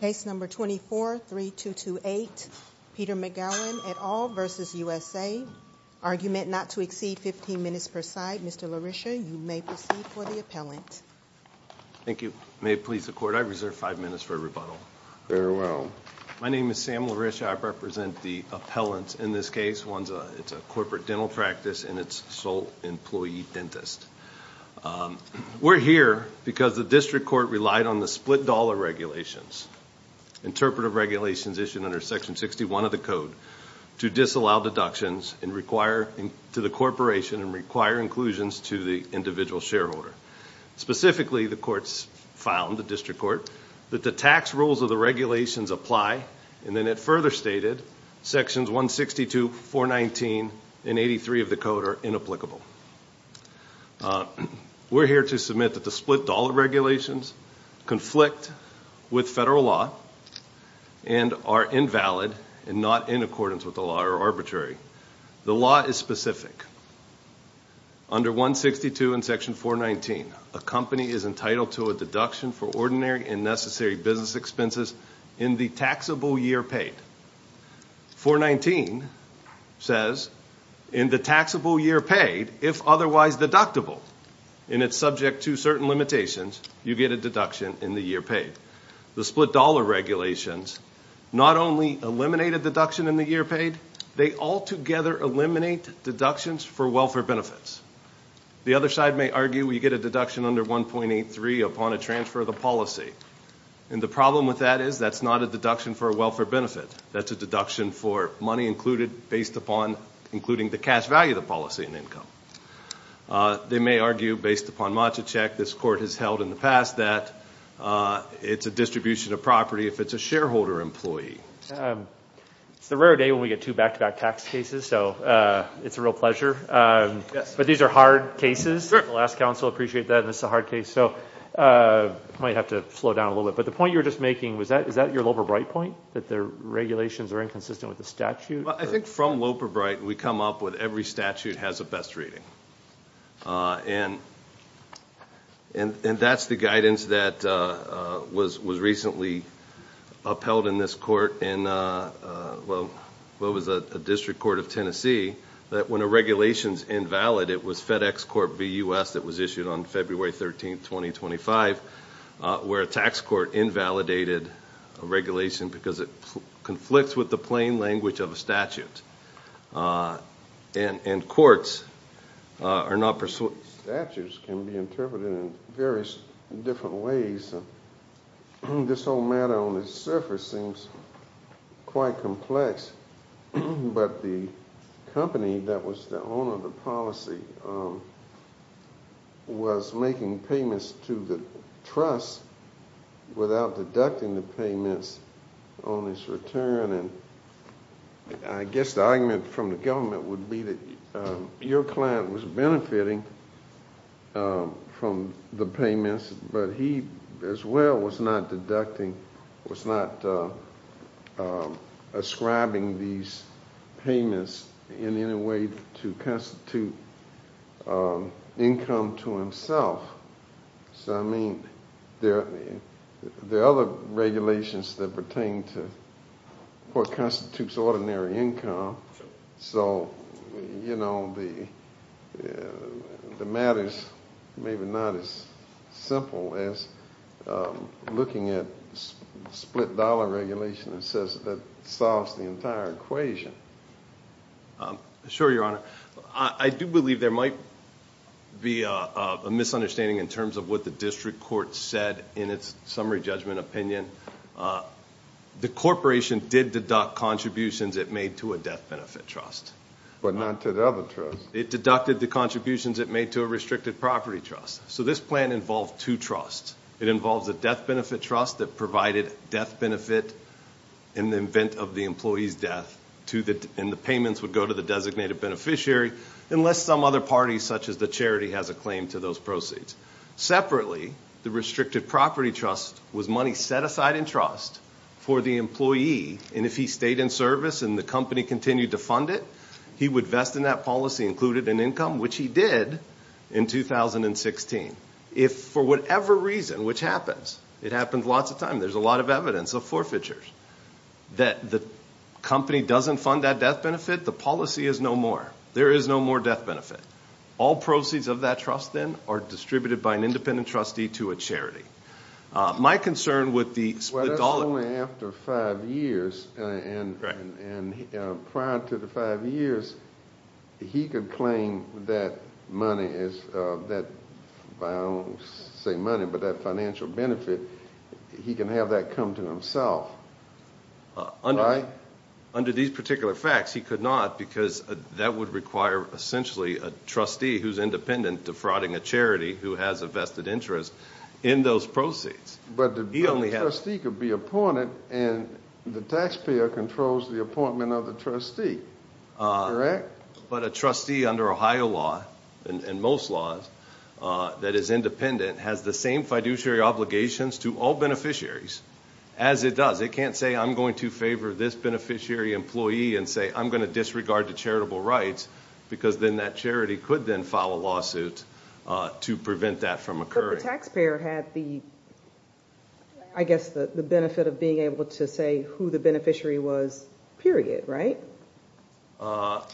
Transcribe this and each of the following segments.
Case number 24-3228, Peter McGowan et al. v. USA. Argument not to exceed 15 minutes per side. Mr. LaRiscia, you may proceed for the appellant. Thank you. May it please the Court, I reserve five minutes for rebuttal. Very well. My name is Sam LaRiscia. I represent the appellant in this case. It's a corporate dental practice and it's sole employee dentist. We're here because the district court relied on the split dollar regulations, interpretive regulations issued under section 61 of the code, to disallow deductions to the corporation and require inclusions to the individual shareholder. Specifically, the courts found, the district court, that the tax rules of the regulations apply and then it further stated sections 162, 419, and 83 of the code are inapplicable. We're here to submit that the split dollar regulations conflict with federal law and are invalid and not in accordance with the law or arbitrary. The law is specific. Under 162 in section 419, a company is entitled to a deduction for ordinary and necessary business expenses in the taxable year paid. 419 says in the taxable year paid, if otherwise deductible, and it's subject to certain limitations, you get a deduction in the year paid. The split dollar regulations not only eliminate a deduction in the year paid, they altogether eliminate deductions for welfare benefits. The other side may argue we get a deduction under 1.83 upon a transfer of the policy. And the problem with that is that's not a deduction for a welfare benefit. That's a deduction for money included based upon including the cash value of the policy and income. They may argue based upon matcha check this court has held in the past that it's a distribution of property if it's a shareholder employee. It's the rare day when we get two back-to-back tax cases, so it's a real pleasure. But these are hard cases. I appreciate that. It's a hard case, so I might have to slow down a little bit. But the point you were just making, is that your Loper-Bright point, that the regulations are inconsistent with the statute? I think from Loper-Bright, we come up with every statute has a best rating. And that's the guidance that was recently upheld in this court in what was a district court of Tennessee, that when a regulation's invalid, it was FedEx Corp. v. U.S. that was issued on February 13, 2025, where a tax court invalidated a regulation because it conflicts with the plain language of a statute. And courts are not pursuant. Statutes can be interpreted in various different ways. This whole matter on the surface seems quite complex. But the company that was the owner of the policy was making payments to the trust without deducting the payments on its return. I guess the argument from the government would be that your client was benefiting from the payments, but he as well was not deducting, was not ascribing these payments in any way to constitute income to himself. So, I mean, there are other regulations that pertain to what constitutes ordinary income. So, you know, the matter's maybe not as simple as looking at split-dollar regulation that solves the entire equation. Sure, Your Honor. I do believe there might be a misunderstanding in terms of what the district court said in its summary judgment opinion. The corporation did deduct contributions it made to a death benefit trust. But not to the other trust. It deducted the contributions it made to a restricted property trust. So this plan involved two trusts. It involves a death benefit trust that provided death benefit in the event of the employee's death, and the payments would go to the designated beneficiary unless some other party, such as the charity, has a claim to those proceeds. Separately, the restricted property trust was money set aside in trust for the employee, and if he stayed in service and the company continued to fund it, he would vest in that policy included in income, which he did in 2016. If for whatever reason, which happens, it happens lots of times, there's a lot of evidence of forfeitures, that the company doesn't fund that death benefit, the policy is no more. There is no more death benefit. All proceeds of that trust, then, are distributed by an independent trustee to a charity. My concern with the split-dollar- Right. And prior to the five years, he could claim that money is that, I don't want to say money, but that financial benefit. He can have that come to himself, right? Under these particular facts, he could not because that would require, essentially, a trustee who's independent defrauding a charity who has a vested interest in those proceeds. But the trustee could be appointed, and the taxpayer controls the appointment of the trustee, correct? But a trustee under Ohio law, and most laws that is independent, has the same fiduciary obligations to all beneficiaries as it does. It can't say, I'm going to favor this beneficiary employee and say, I'm going to disregard the charitable rights, because then that charity could then file a lawsuit to prevent that from occurring. But the taxpayer had the, I guess, the benefit of being able to say who the beneficiary was, period, right? Well,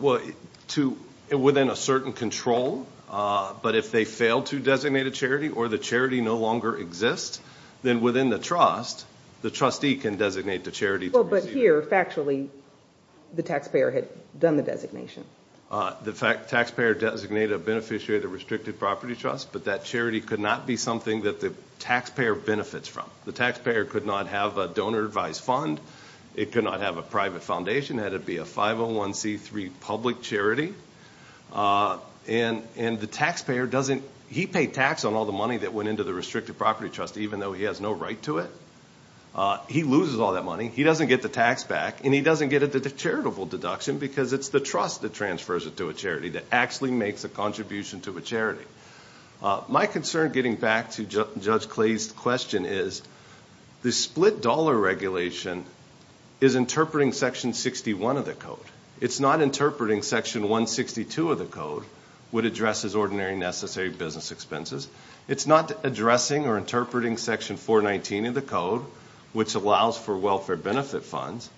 within a certain control, but if they fail to designate a charity or the charity no longer exists, then within the trust, the trustee can designate the charity to receive it. Well, but here, factually, the taxpayer had done the designation. The taxpayer designated a beneficiary of the Restricted Property Trust, but that charity could not be something that the taxpayer benefits from. The taxpayer could not have a donor-advised fund. It could not have a private foundation, had it be a 501c3 public charity. And the taxpayer doesn't, he paid tax on all the money that went into the Restricted Property Trust, even though he has no right to it. He loses all that money. He doesn't get the tax back, and he doesn't get a charitable deduction, because it's the trust that transfers it to a charity that actually makes a contribution to a charity. My concern, getting back to Judge Clay's question, is the split-dollar regulation is interpreting Section 61 of the Code. It's not interpreting Section 162 of the Code, which addresses ordinary and necessary business expenses. It's not addressing or interpreting Section 419 of the Code, which allows for welfare benefit funds.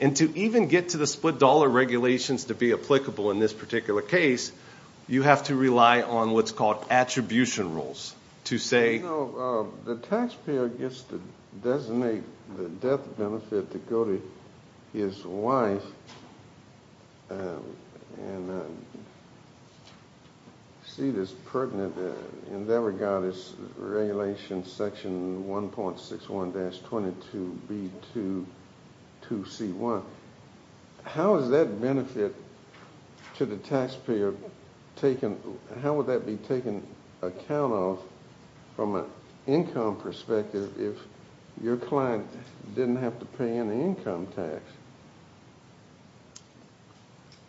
And to even get to the split-dollar regulations to be applicable in this particular case, you have to rely on what's called attribution rules. You know, the taxpayer gets to designate the death benefit to go to his wife, and see that it's pertinent in that regard as Regulation Section 1.61-22B2 2C1. How is that benefit to the taxpayer taken? How would that be taken account of from an income perspective if your client didn't have to pay any income tax?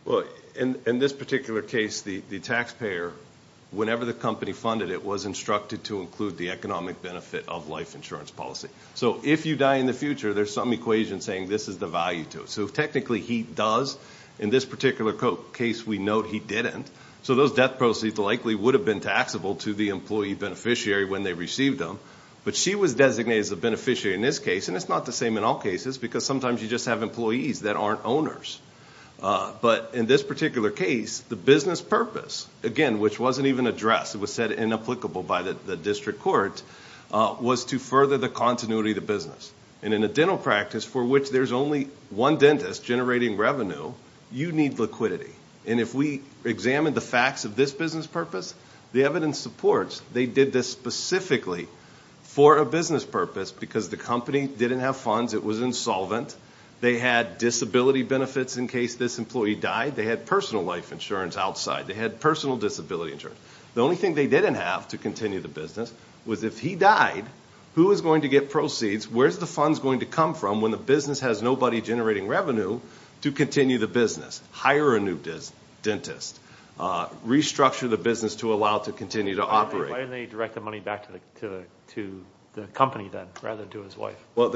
Well, in this particular case, the taxpayer, whenever the company funded it, was instructed to include the economic benefit of life insurance policy. So if you die in the future, there's some equation saying this is the value to it. So technically, he does. In this particular case, we note he didn't. So those death proceeds likely would have been taxable to the employee beneficiary when they received them. But she was designated as a beneficiary in this case, and it's not the same in all cases, because sometimes you just have employees that aren't owners. But in this particular case, the business purpose, again, which wasn't even addressed, it was said inapplicable by the district court, was to further the continuity of the business. And in a dental practice for which there's only one dentist generating revenue, you need liquidity. And if we examine the facts of this business purpose, the evidence supports they did this specifically for a business purpose because the company didn't have funds, it was insolvent, they had disability benefits in case this employee died, they had personal life insurance outside, they had personal disability insurance. The only thing they didn't have to continue the business was if he died, who was going to get proceeds, where's the funds going to come from when the business has nobody generating revenue to continue the business, hire a new dentist, restructure the business to allow it to continue to operate. Why didn't they direct the money back to the company then rather than to his wife? Well,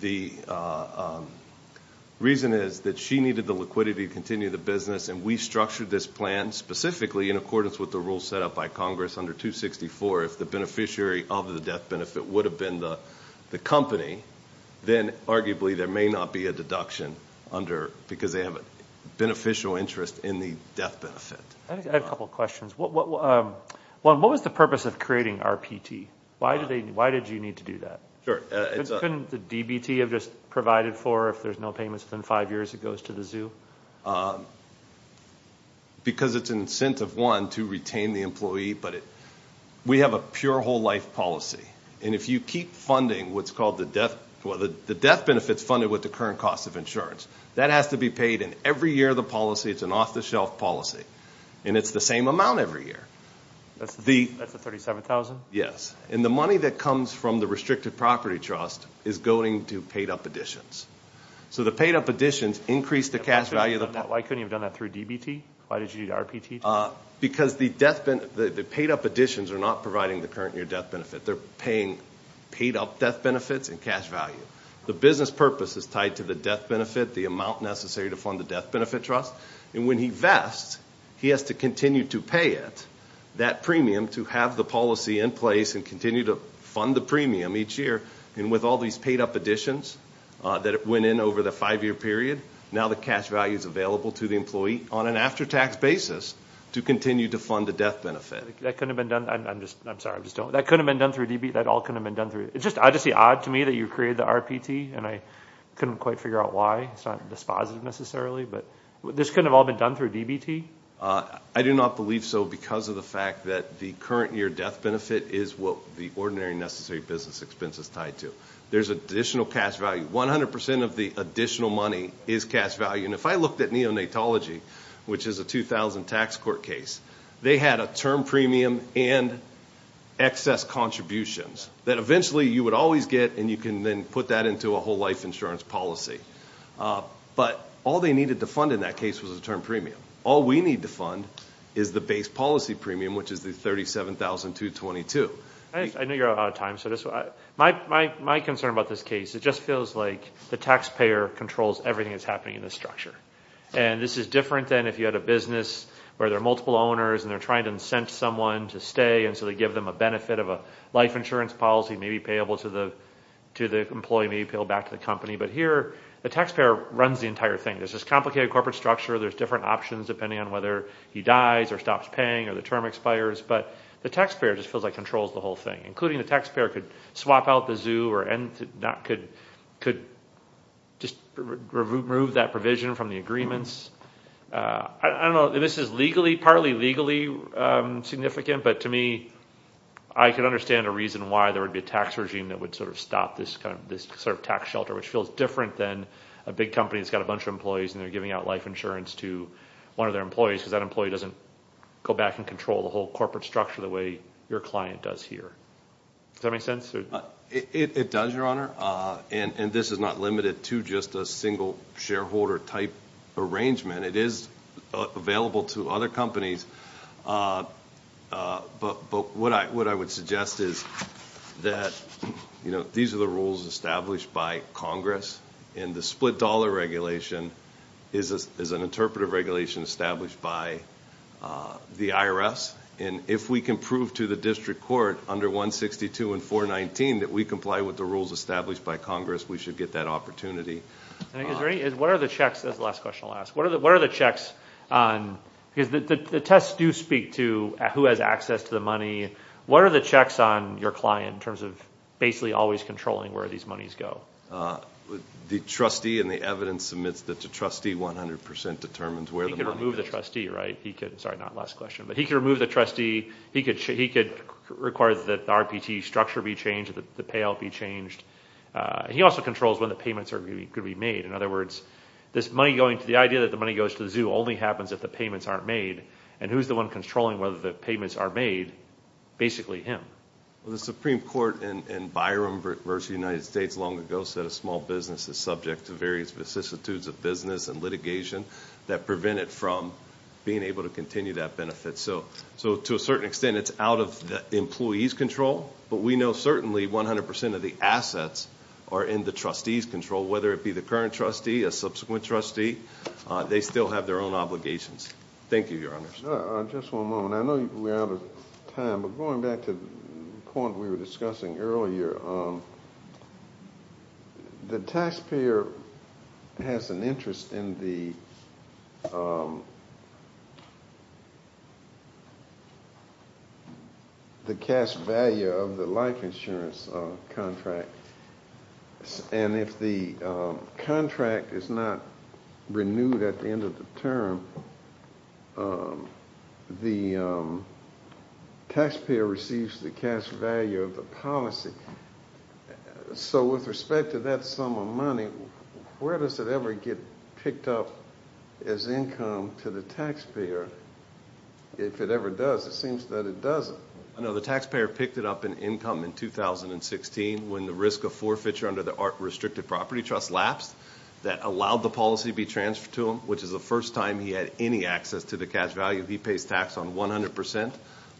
the reason is that she needed the liquidity to continue the business, and we structured this plan specifically in accordance with the rules set up by Congress under 264. If the beneficiary of the death benefit would have been the company, then arguably there may not be a deduction because they have a beneficial interest in the death benefit. I have a couple of questions. One, what was the purpose of creating RPT? Why did you need to do that? Couldn't the DBT have just provided for if there's no payments within five years it goes to the zoo? Because it's an incentive, one, to retain the employee, but we have a pure whole life policy, and if you keep funding what's called the death benefits funded with the current cost of insurance, that has to be paid in every year of the policy. It's an off-the-shelf policy, and it's the same amount every year. That's the $37,000? Yes, and the money that comes from the restricted property trust is going to paid-up additions. So the paid-up additions increase the cash value. Why couldn't you have done that through DBT? Why did you need RPT? Because the paid-up additions are not providing the current year death benefit. They're paying paid-up death benefits and cash value. The business purpose is tied to the death benefit, the amount necessary to fund the death benefit trust, and when he vests, he has to continue to pay it, that premium, to have the policy in place and continue to fund the premium each year. And with all these paid-up additions that went in over the five-year period, now the cash value is available to the employee on an after-tax basis to continue to fund the death benefit. That couldn't have been done? I'm sorry, I'm just joking. That couldn't have been done through DBT? That all couldn't have been done through? It's just obviously odd to me that you created the RPT, and I couldn't quite figure out why. It's not dispositive necessarily, but this couldn't have all been done through DBT? I do not believe so because of the fact that the current year death benefit is what the ordinary necessary business expense is tied to. There's additional cash value. 100% of the additional money is cash value. And if I looked at neonatology, which is a 2000 tax court case, they had a term premium and excess contributions that eventually you would always get, and you can then put that into a whole life insurance policy. But all they needed to fund in that case was a term premium. All we need to fund is the base policy premium, which is the $37,222. I know you're out of time, so my concern about this case, it just feels like the taxpayer controls everything that's happening in this structure. And this is different than if you had a business where there are multiple owners and they're trying to incent someone to stay, and so they give them a benefit of a life insurance policy, maybe payable to the employee, maybe payable back to the company. But here the taxpayer runs the entire thing. There's this complicated corporate structure. There's different options depending on whether he dies or stops paying or the term expires. But the taxpayer just feels like controls the whole thing, including the taxpayer could swap out the zoo or could just remove that provision from the agreements. I don't know if this is legally, partly legally significant, but to me I can understand a reason why there would be a tax regime that would sort of stop this sort of tax shelter, which feels different than a big company that's got a bunch of employees and they're giving out life insurance to one of their employees because that employee doesn't go back and control the whole corporate structure the way your client does here. Does that make sense? It does, Your Honor, and this is not limited to just a single shareholder type arrangement. It is available to other companies, but what I would suggest is that these are the rules established by Congress, and the split dollar regulation is an interpretive regulation established by the IRS, and if we can prove to the district court under 162 and 419 that we comply with the rules established by Congress, we should get that opportunity. What are the checks? That's the last question I'll ask. What are the checks? Because the tests do speak to who has access to the money. What are the checks on your client in terms of basically always controlling where these monies go? The trustee and the evidence submits that the trustee 100 percent determines where the money is. He can remove the trustee, right? He could. Sorry, not last question, but he could remove the trustee. He could require that the RPT structure be changed, that the payout be changed. He also controls when the payments are going to be made. In other words, the idea that the money goes to the zoo only happens if the payments aren't made, and who's the one controlling whether the payments are made? Basically him. The Supreme Court in Byron versus the United States long ago said a small business is subject to various vicissitudes of business and litigation that prevent it from being able to continue that benefit. So to a certain extent it's out of the employee's control, but we know certainly 100 percent of the assets are in the trustee's control, whether it be the current trustee, a subsequent trustee, they still have their own obligations. Thank you, Your Honor. Just one moment. I know we're out of time, but going back to the point we were discussing earlier, the taxpayer has an interest in the cash value of the life insurance contract, and if the contract is not renewed at the end of the term, the taxpayer receives the cash value of the policy. So with respect to that sum of money, where does it ever get picked up as income to the taxpayer? If it ever does, it seems that it doesn't. I know the taxpayer picked it up in income in 2016 when the risk of forfeiture under the Art Restricted Property Trust lapsed. That allowed the policy to be transferred to him, which is the first time he had any access to the cash value. He pays tax on 100 percent,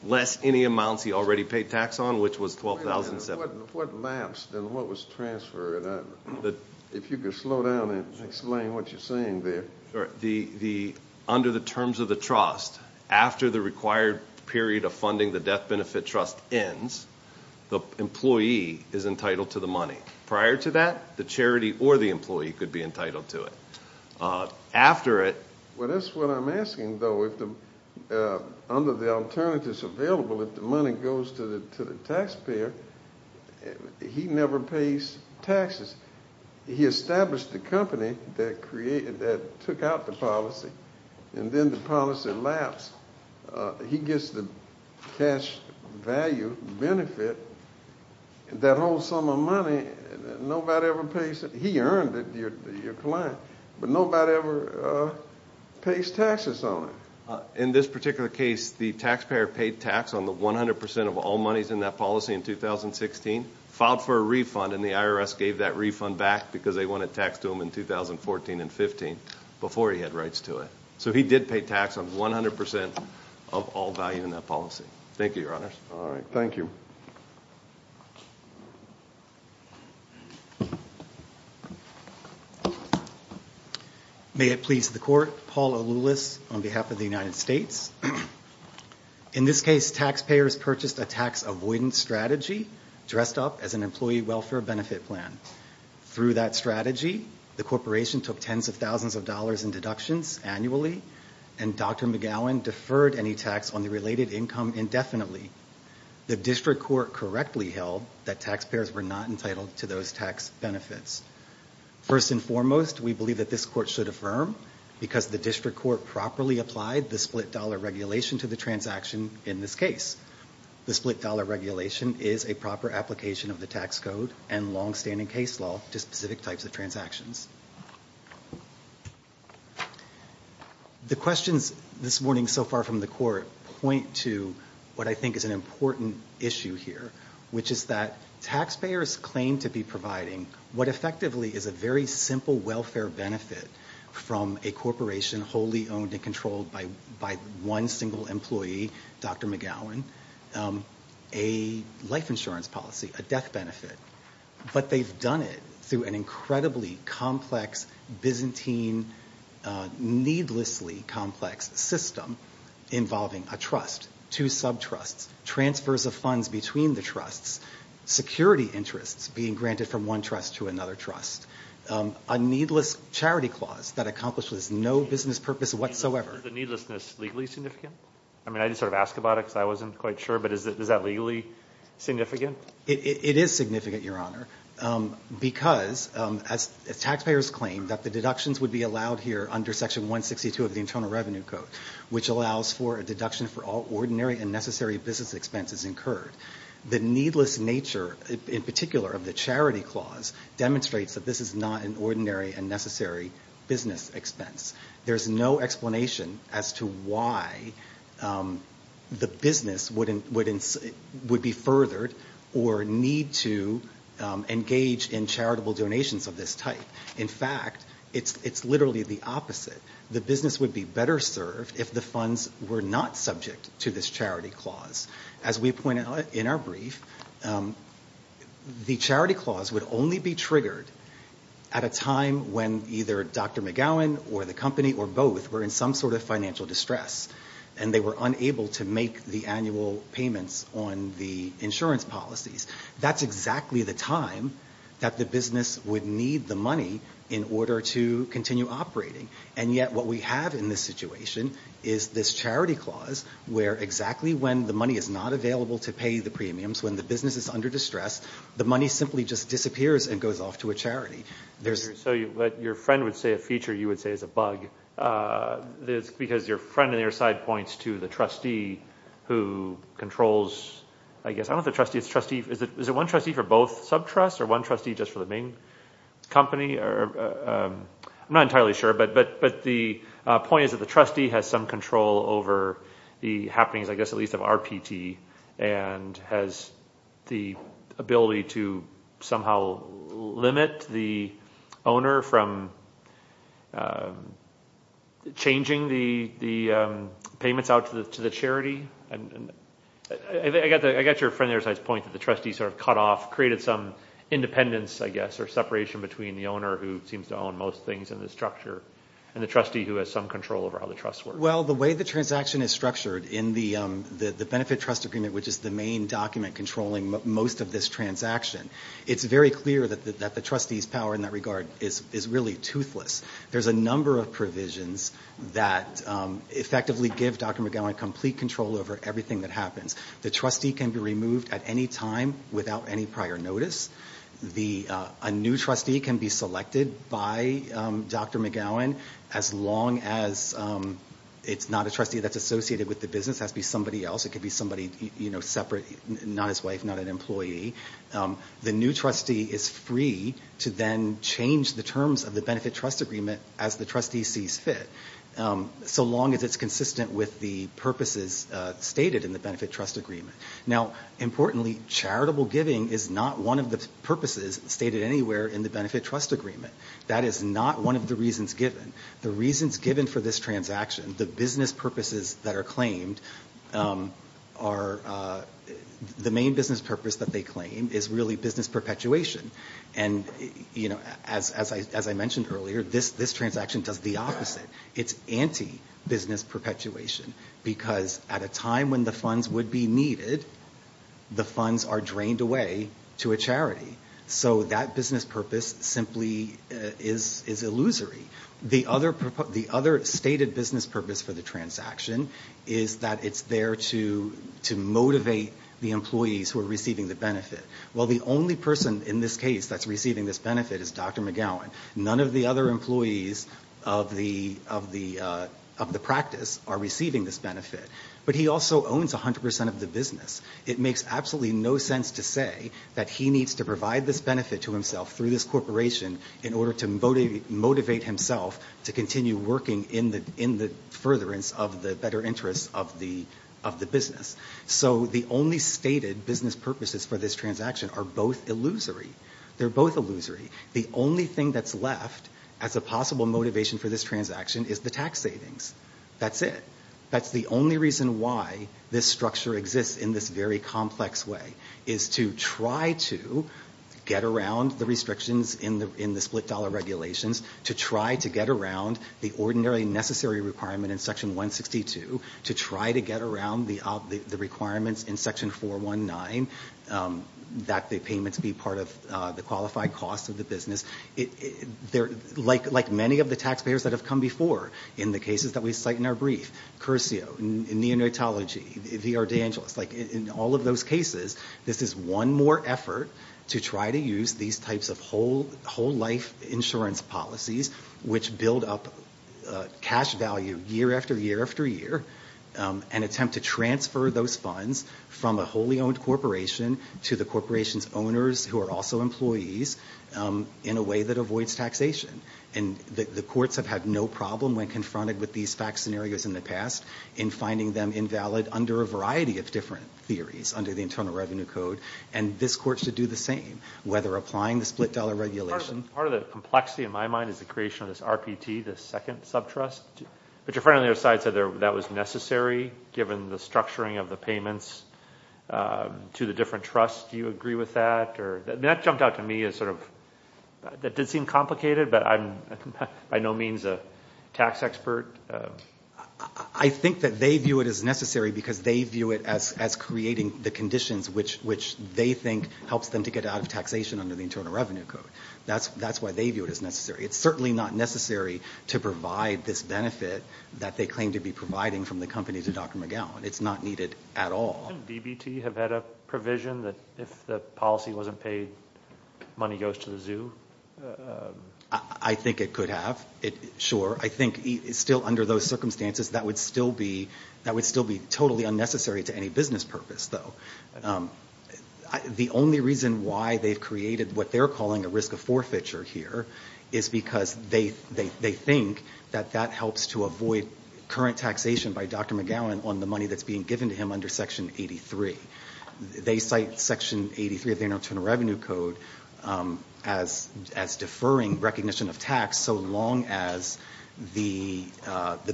less any amounts he already paid tax on, which was $12,700. Wait a minute. If what lapsed, then what was transferred? If you could slow down and explain what you're saying there. Under the terms of the trust, after the required period of funding the death benefit trust ends, the employee is entitled to the money. Prior to that, the charity or the employee could be entitled to it. After it— Well, that's what I'm asking, though. Under the alternatives available, if the money goes to the taxpayer, he never pays taxes. He established the company that took out the policy, and then the policy lapsed. He gets the cash value benefit. That whole sum of money, nobody ever pays it. He earned it, your client, but nobody ever pays taxes on it. In this particular case, the taxpayer paid tax on the 100 percent of all monies in that policy in 2016, filed for a refund, and the IRS gave that refund back because they wanted tax to him in 2014 and 2015 before he had rights to it. So he did pay tax on 100 percent of all value in that policy. Thank you, your honors. All right. Thank you. May it please the court. Paul Aloulis on behalf of the United States. In this case, taxpayers purchased a tax avoidance strategy dressed up as an employee welfare benefit plan. Through that strategy, the corporation took tens of thousands of dollars in deductions annually, and Dr. McGowan deferred any tax on the related income indefinitely. The district court correctly held that taxpayers were not entitled to those tax benefits. First and foremost, we believe that this court should affirm, because the district court properly applied the split dollar regulation to the transaction in this case. The split dollar regulation is a proper application of the tax code and longstanding case law to specific types of transactions. The questions this morning so far from the court point to what I think is an important issue here, which is that taxpayers claim to be providing what effectively is a very simple welfare benefit from a corporation wholly owned and controlled by one single employee, Dr. McGowan, a life insurance policy, a death benefit. But they've done it through an incredibly complex, Byzantine, needlessly complex system involving a trust, two sub-trusts, transfers of funds between the trusts, security interests being granted from one trust to another trust, a needless charity clause that accomplishes no business purpose whatsoever. Is the needlessness legally significant? I mean, I just sort of asked about it because I wasn't quite sure, but is that legally significant? It is significant, Your Honor, because as taxpayers claim that the deductions would be allowed here under Section 162 of the Internal Revenue Code, which allows for a deduction for all ordinary and necessary business expenses incurred, the needless nature in particular of the charity clause demonstrates that this is not an ordinary and necessary business expense. There's no explanation as to why the business would be furthered or need to engage in charitable donations of this type. In fact, it's literally the opposite. The business would be better served if the funds were not subject to this charity clause. As we pointed out in our brief, the charity clause would only be triggered at a time when either Dr. McGowan or the company or both were in some sort of financial distress and they were unable to make the annual payments on the insurance policies. That's exactly the time that the business would need the money in order to continue operating. And yet what we have in this situation is this charity clause, where exactly when the money is not available to pay the premiums, when the business is under distress, the money simply just disappears and goes off to a charity. So what your friend would say a feature, you would say is a bug, because your friend on your side points to the trustee who controls, I guess, I don't know if it's a trustee. Is it one trustee for both sub-trusts or one trustee just for the main company? I'm not entirely sure. But the point is that the trustee has some control over the happenings, I guess, at least of RPT and has the ability to somehow limit the owner from changing the payments out to the charity. I got your friend on your side's point that the trustee sort of cut off, created some independence, I guess, or separation between the owner, who seems to own most things in this structure, and the trustee who has some control over how the trusts work. Well, the way the transaction is structured in the benefit trust agreement, which is the main document controlling most of this transaction, it's very clear that the trustee's power in that regard is really toothless. There's a number of provisions that effectively give Dr. McGowan complete control over everything that happens. The trustee can be removed at any time without any prior notice. A new trustee can be selected by Dr. McGowan, as long as it's not a trustee that's associated with the business. It has to be somebody else. It could be somebody separate, not his wife, not an employee. The new trustee is free to then change the terms of the benefit trust agreement as the trustee sees fit, so long as it's consistent with the purposes stated in the benefit trust agreement. Now, importantly, charitable giving is not one of the purposes stated anywhere in the benefit trust agreement. That is not one of the reasons given. The reasons given for this transaction, the business purposes that are claimed, the main business purpose that they claim is really business perpetuation. And, you know, as I mentioned earlier, this transaction does the opposite. It's anti-business perpetuation, because at a time when the funds would be needed, the funds are drained away to a charity. So that business purpose simply is illusory. The other stated business purpose for the transaction is that it's there to motivate the employees who are receiving the benefit. Well, the only person in this case that's receiving this benefit is Dr. McGowan. None of the other employees of the practice are receiving this benefit. But he also owns 100 percent of the business. It makes absolutely no sense to say that he needs to provide this benefit to himself through this corporation in order to motivate himself to continue working in the furtherance of the better interests of the business. So the only stated business purposes for this transaction are both illusory. They're both illusory. The only thing that's left as a possible motivation for this transaction is the tax savings. That's it. That's the only reason why this structure exists in this very complex way, is to try to get around the restrictions in the split dollar regulations, to try to get around the ordinarily necessary requirement in Section 162, to try to get around the requirements in Section 419 that the payments be part of the qualified cost of the business. Like many of the taxpayers that have come before in the cases that we cite in our brief, Curcio, Neonatology, the Ardangelos, in all of those cases, this is one more effort to try to use these types of whole life insurance policies which build up cash value year after year after year, and attempt to transfer those funds from a wholly owned corporation to the corporation's owners, who are also employees, in a way that avoids taxation. And the courts have had no problem when confronted with these fact scenarios in the past in finding them invalid under a variety of different theories under the Internal Revenue Code. And this court should do the same, whether applying the split dollar regulations. Part of the complexity in my mind is the creation of this RPT, this second subtrust. But your friend on the other side said that was necessary, given the structuring of the payments to the different trusts. Do you agree with that? That jumped out to me as sort of, that did seem complicated, but I'm by no means a tax expert. I think that they view it as necessary because they view it as creating the conditions which they think helps them to get out of taxation under the Internal Revenue Code. That's why they view it as necessary. It's certainly not necessary to provide this benefit that they claim to be providing from the company to Dr. McGowan. It's not needed at all. Shouldn't DBT have had a provision that if the policy wasn't paid, money goes to the zoo? I think it could have, sure. I think still under those circumstances, that would still be totally unnecessary to any business purpose, though. The only reason why they've created what they're calling a risk of forfeiture here is because they think that that helps to avoid current taxation by Dr. McGowan on the money that's being given to him under Section 83. They cite Section 83 of the Internal Revenue Code as deferring recognition of tax so long as the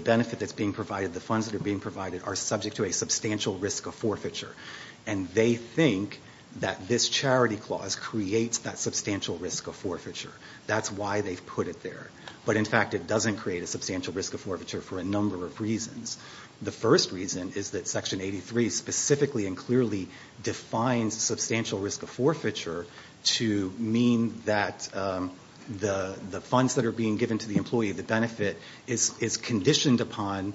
benefit that's being provided, the funds that are being provided, are subject to a substantial risk of forfeiture. And they think that this charity clause creates that substantial risk of forfeiture. That's why they've put it there. But, in fact, it doesn't create a substantial risk of forfeiture for a number of reasons. The first reason is that Section 83 specifically and clearly defines substantial risk of forfeiture to mean that the funds that are being given to the employee, the benefit, is conditioned upon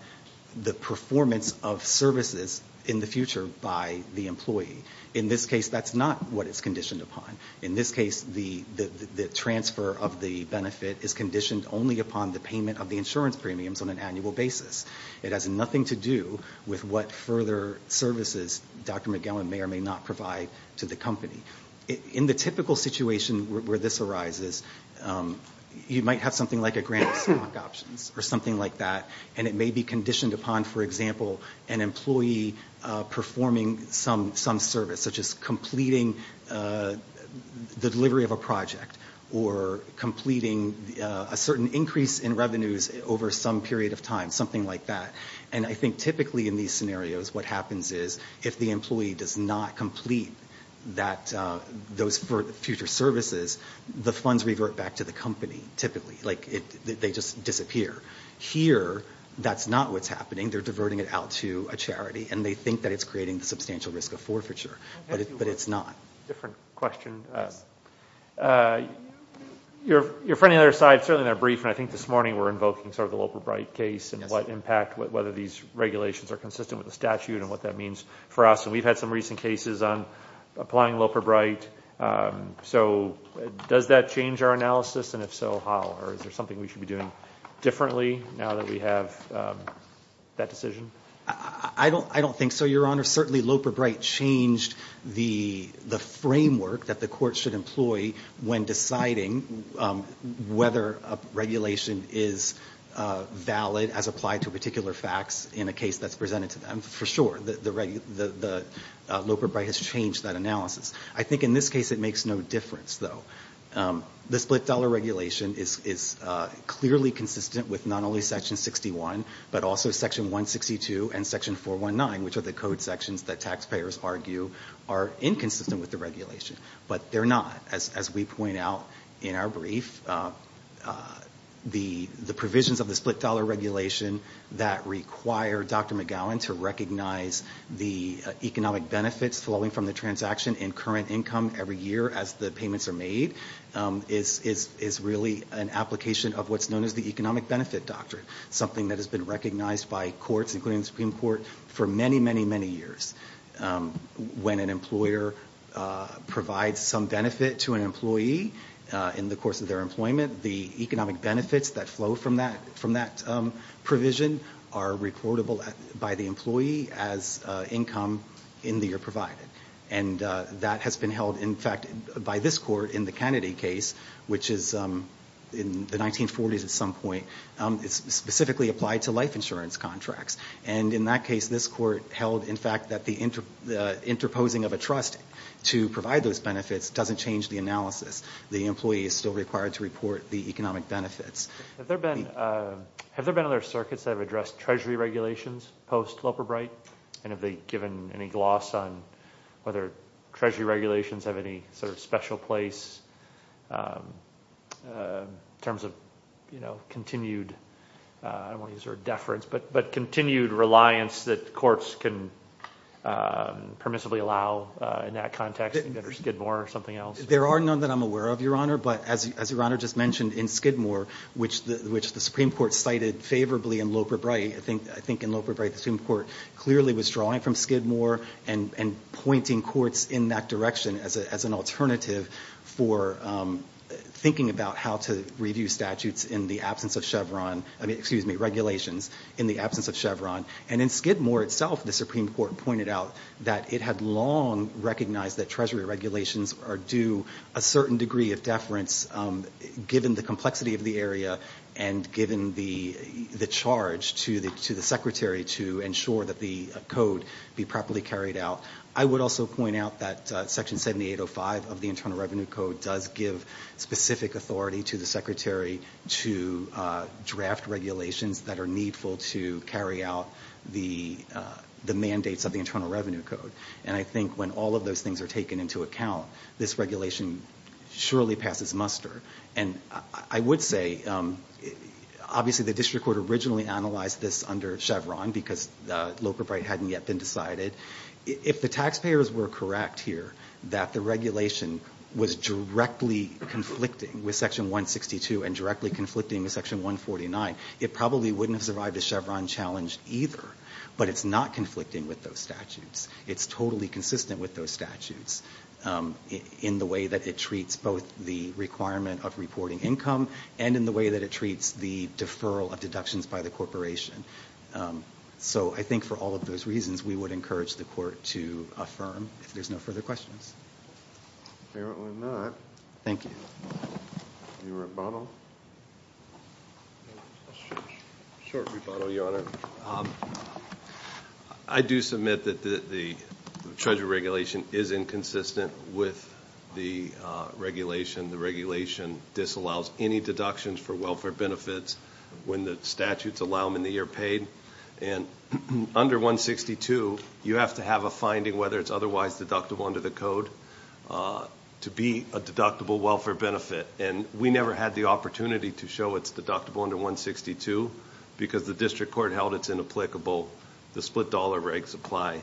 the performance of services in the future by the employee. In this case, that's not what it's conditioned upon. In this case, the transfer of the benefit is conditioned only upon the payment of the insurance premiums on an annual basis. It has nothing to do with what further services Dr. McGowan may or may not provide to the company. In the typical situation where this arises, you might have something like a grant of stock options or something like that, and it may be conditioned upon, for example, an employee performing some service, such as completing the delivery of a project or completing a certain increase in revenues over some period of time, something like that. I think typically in these scenarios what happens is if the employee does not complete those future services, the funds revert back to the company, typically. They just disappear. Here, that's not what's happening. They're diverting it out to a charity, and they think that it's creating the substantial risk of forfeiture, but it's not. Different question. Your friend on the other side, certainly in their brief, and I think this morning we're invoking sort of the Loper-Bright case and what impact, whether these regulations are consistent with the statute and what that means for us. And we've had some recent cases on applying Loper-Bright. So does that change our analysis, and if so, how? Or is there something we should be doing differently now that we have that decision? I don't think so, Your Honor. Certainly Loper-Bright changed the framework that the court should employ when deciding whether a regulation is valid as applied to particular facts in a case that's presented to them. For sure, Loper-Bright has changed that analysis. I think in this case it makes no difference, though. The split dollar regulation is clearly consistent with not only Section 61, but also Section 162 and Section 419, which are the code sections that taxpayers argue are inconsistent with the regulation. But they're not, as we point out in our brief. The provisions of the split dollar regulation that require Dr. McGowan to recognize the economic benefits flowing from the transaction in current income every year as the payments are made is really an application of what's known as the economic benefit doctrine, something that has been recognized by courts, including the Supreme Court, for many, many, many years. When an employer provides some benefit to an employee in the course of their employment, the economic benefits that flow from that provision are reportable by the employee as income in the year provided. And that has been held, in fact, by this Court in the Kennedy case, which is in the 1940s at some point. It's specifically applied to life insurance contracts. And in that case, this Court held, in fact, that the interposing of a trust to provide those benefits doesn't change the analysis. The employee is still required to report the economic benefits. Have there been other circuits that have addressed Treasury regulations post-Loper-Bright? And have they given any gloss on whether Treasury regulations have any sort of special place in terms of continued, I don't want to use the word deference, but continued reliance that courts can permissibly allow in that context under Skidmore or something else? There are none that I'm aware of, Your Honor, but as Your Honor just mentioned, in Skidmore, which the Supreme Court cited favorably in Loper-Bright, I think in Loper-Bright the Supreme Court clearly was drawing from Skidmore and pointing courts in that direction as an alternative for thinking about how to review statutes in the absence of Chevron, excuse me, regulations in the absence of Chevron. And in Skidmore itself, the Supreme Court pointed out that it had long recognized that Treasury regulations are due a certain degree of deference, given the complexity of the area and given the charge to the Secretary to ensure that the code be properly considered. I would also point out that Section 7805 of the Internal Revenue Code does give specific authority to the Secretary to draft regulations that are needful to carry out the mandates of the Internal Revenue Code. And I think when all of those things are taken into account, this regulation surely passes muster. And I would say, obviously the district court originally analyzed this under Chevron, because Loper-Bright hadn't yet been decided. If the taxpayers were correct here that the regulation was directly conflicting with Section 162 and directly conflicting with Section 149, it probably wouldn't have survived a Chevron challenge either. But it's not conflicting with those statutes. It's totally consistent with those statutes in the way that it treats both the requirement of reporting income and in the way that it treats the deferral of income. So I think for all of those reasons, we would encourage the Court to affirm if there's no further questions. Thank you. I do submit that the Treasury regulation is inconsistent with the regulation. The regulation disallows any deductions for welfare benefits when the statutes allow them in the year paid. And under 162, you have to have a finding, whether it's otherwise deductible under the code, to be a deductible welfare benefit. And we never had the opportunity to show it's deductible under 162, because the district court held it's inapplicable. The split dollar regs apply.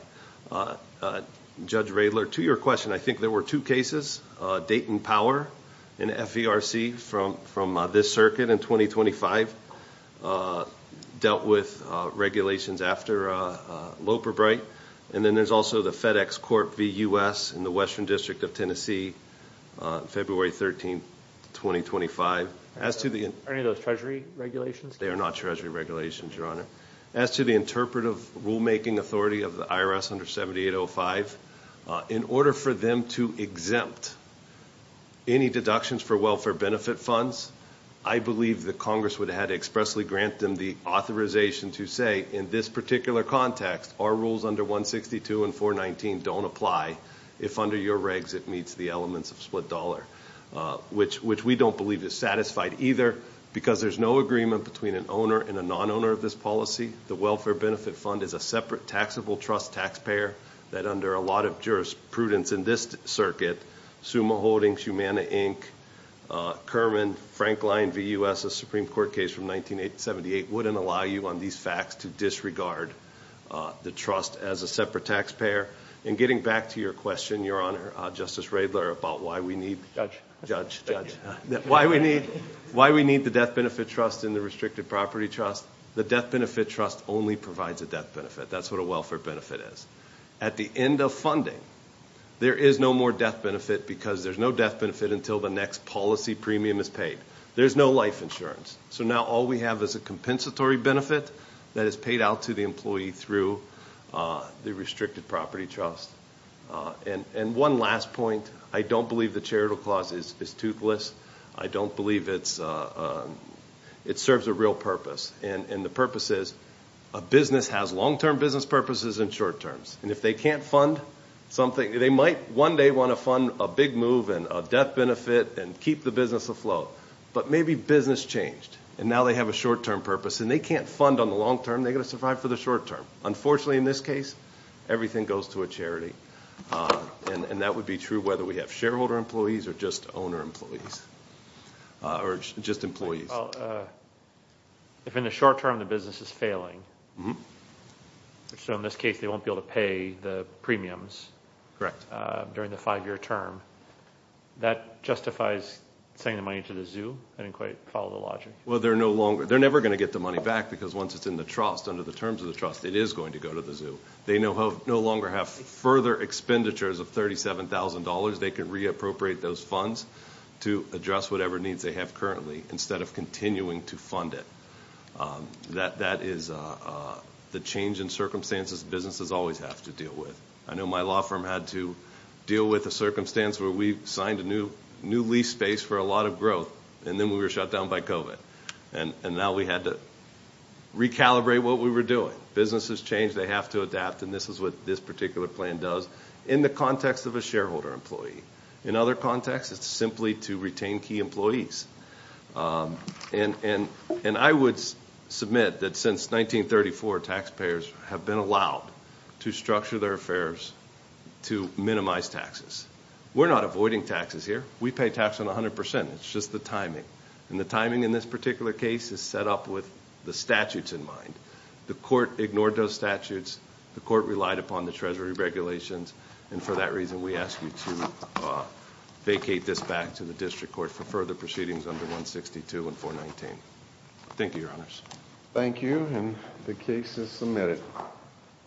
Judge Radler, to your question, I think there were two cases. Dayton Power and FVRC from this circuit in 2025 dealt with regulations after Loperbright. And then there's also the FedEx Corp v. U.S. in the Western District of Tennessee, February 13, 2025. Are any of those Treasury regulations? They are not Treasury regulations, Your Honor. As to the interpretive rulemaking authority of the IRS under 7805, in order for them to exempt any deductions for welfare benefit funds, I believe that Congress would have to expressly grant them the authorization to say, in this particular context, our rules under 162 and 419 don't apply, if under your regs it meets the elements of split dollar, which we don't believe is satisfied either, because there's no agreement between an owner and a non-owner of this policy. The welfare benefit fund is a separate taxable trust taxpayer, that under a lot of jurisprudence in this circuit, Summa Holdings, Humana, Inc., Kerman, Frankline v. U.S., a Supreme Court case from 1978, wouldn't allow you on these facts to disregard the trust as a separate taxpayer. In getting back to your question, Your Honor, Justice Radler, about why we need the death benefit trust and the restricted property trust, the death benefit trust only provides a death benefit. That's what a welfare benefit is. At the end of funding, there is no more death benefit because there's no death benefit until the next policy premium is paid. There's no life insurance. So now all we have is a compensatory benefit that is paid out to the employee through the restricted property trust. One last point. I don't believe the charitable clause is toothless. It serves a real purpose. A business has long-term business purposes and short-terms. They might one day want to fund a big move and a death benefit and keep the business afloat, but maybe business changed and now they have a short-term purpose and they can't fund on the long-term. They've got to survive for the short-term. Unfortunately, in this case, everything goes to a charity. And that would be true whether we have shareholder employees or just owner employees or just employees. If in the short-term the business is failing, which in this case they won't be able to pay the premiums during the five-year term, that justifies sending the money to the zoo? I didn't quite follow the logic. They're never going to get the money back because once it's in the trust, under the terms of the trust, it is going to go to the zoo. They no longer have further expenditures of $37,000. They can reappropriate those funds to address whatever needs they have currently instead of continuing to fund it. That is the change in circumstances businesses always have to deal with. I know my law firm had to deal with a circumstance where we signed a new lease space for a lot of growth, and then we were shut down by COVID. And now we had to recalibrate what we were doing. Businesses change, they have to adapt, and this is what this particular plan does in the context of a shareholder employee. In other contexts, it's simply to retain key employees. And I would submit that since 1934, taxpayers have been allowed to structure their affairs to minimize taxes. We're not avoiding taxes here. We pay tax on 100%. It's just the timing. And the timing in this particular case is set up with the statutes in mind. The court ignored those statutes. The court relied upon the Treasury regulations. And for that reason, we ask you to vacate this back to the district court for further proceedings under 162 and 419. Thank you, Your Honors.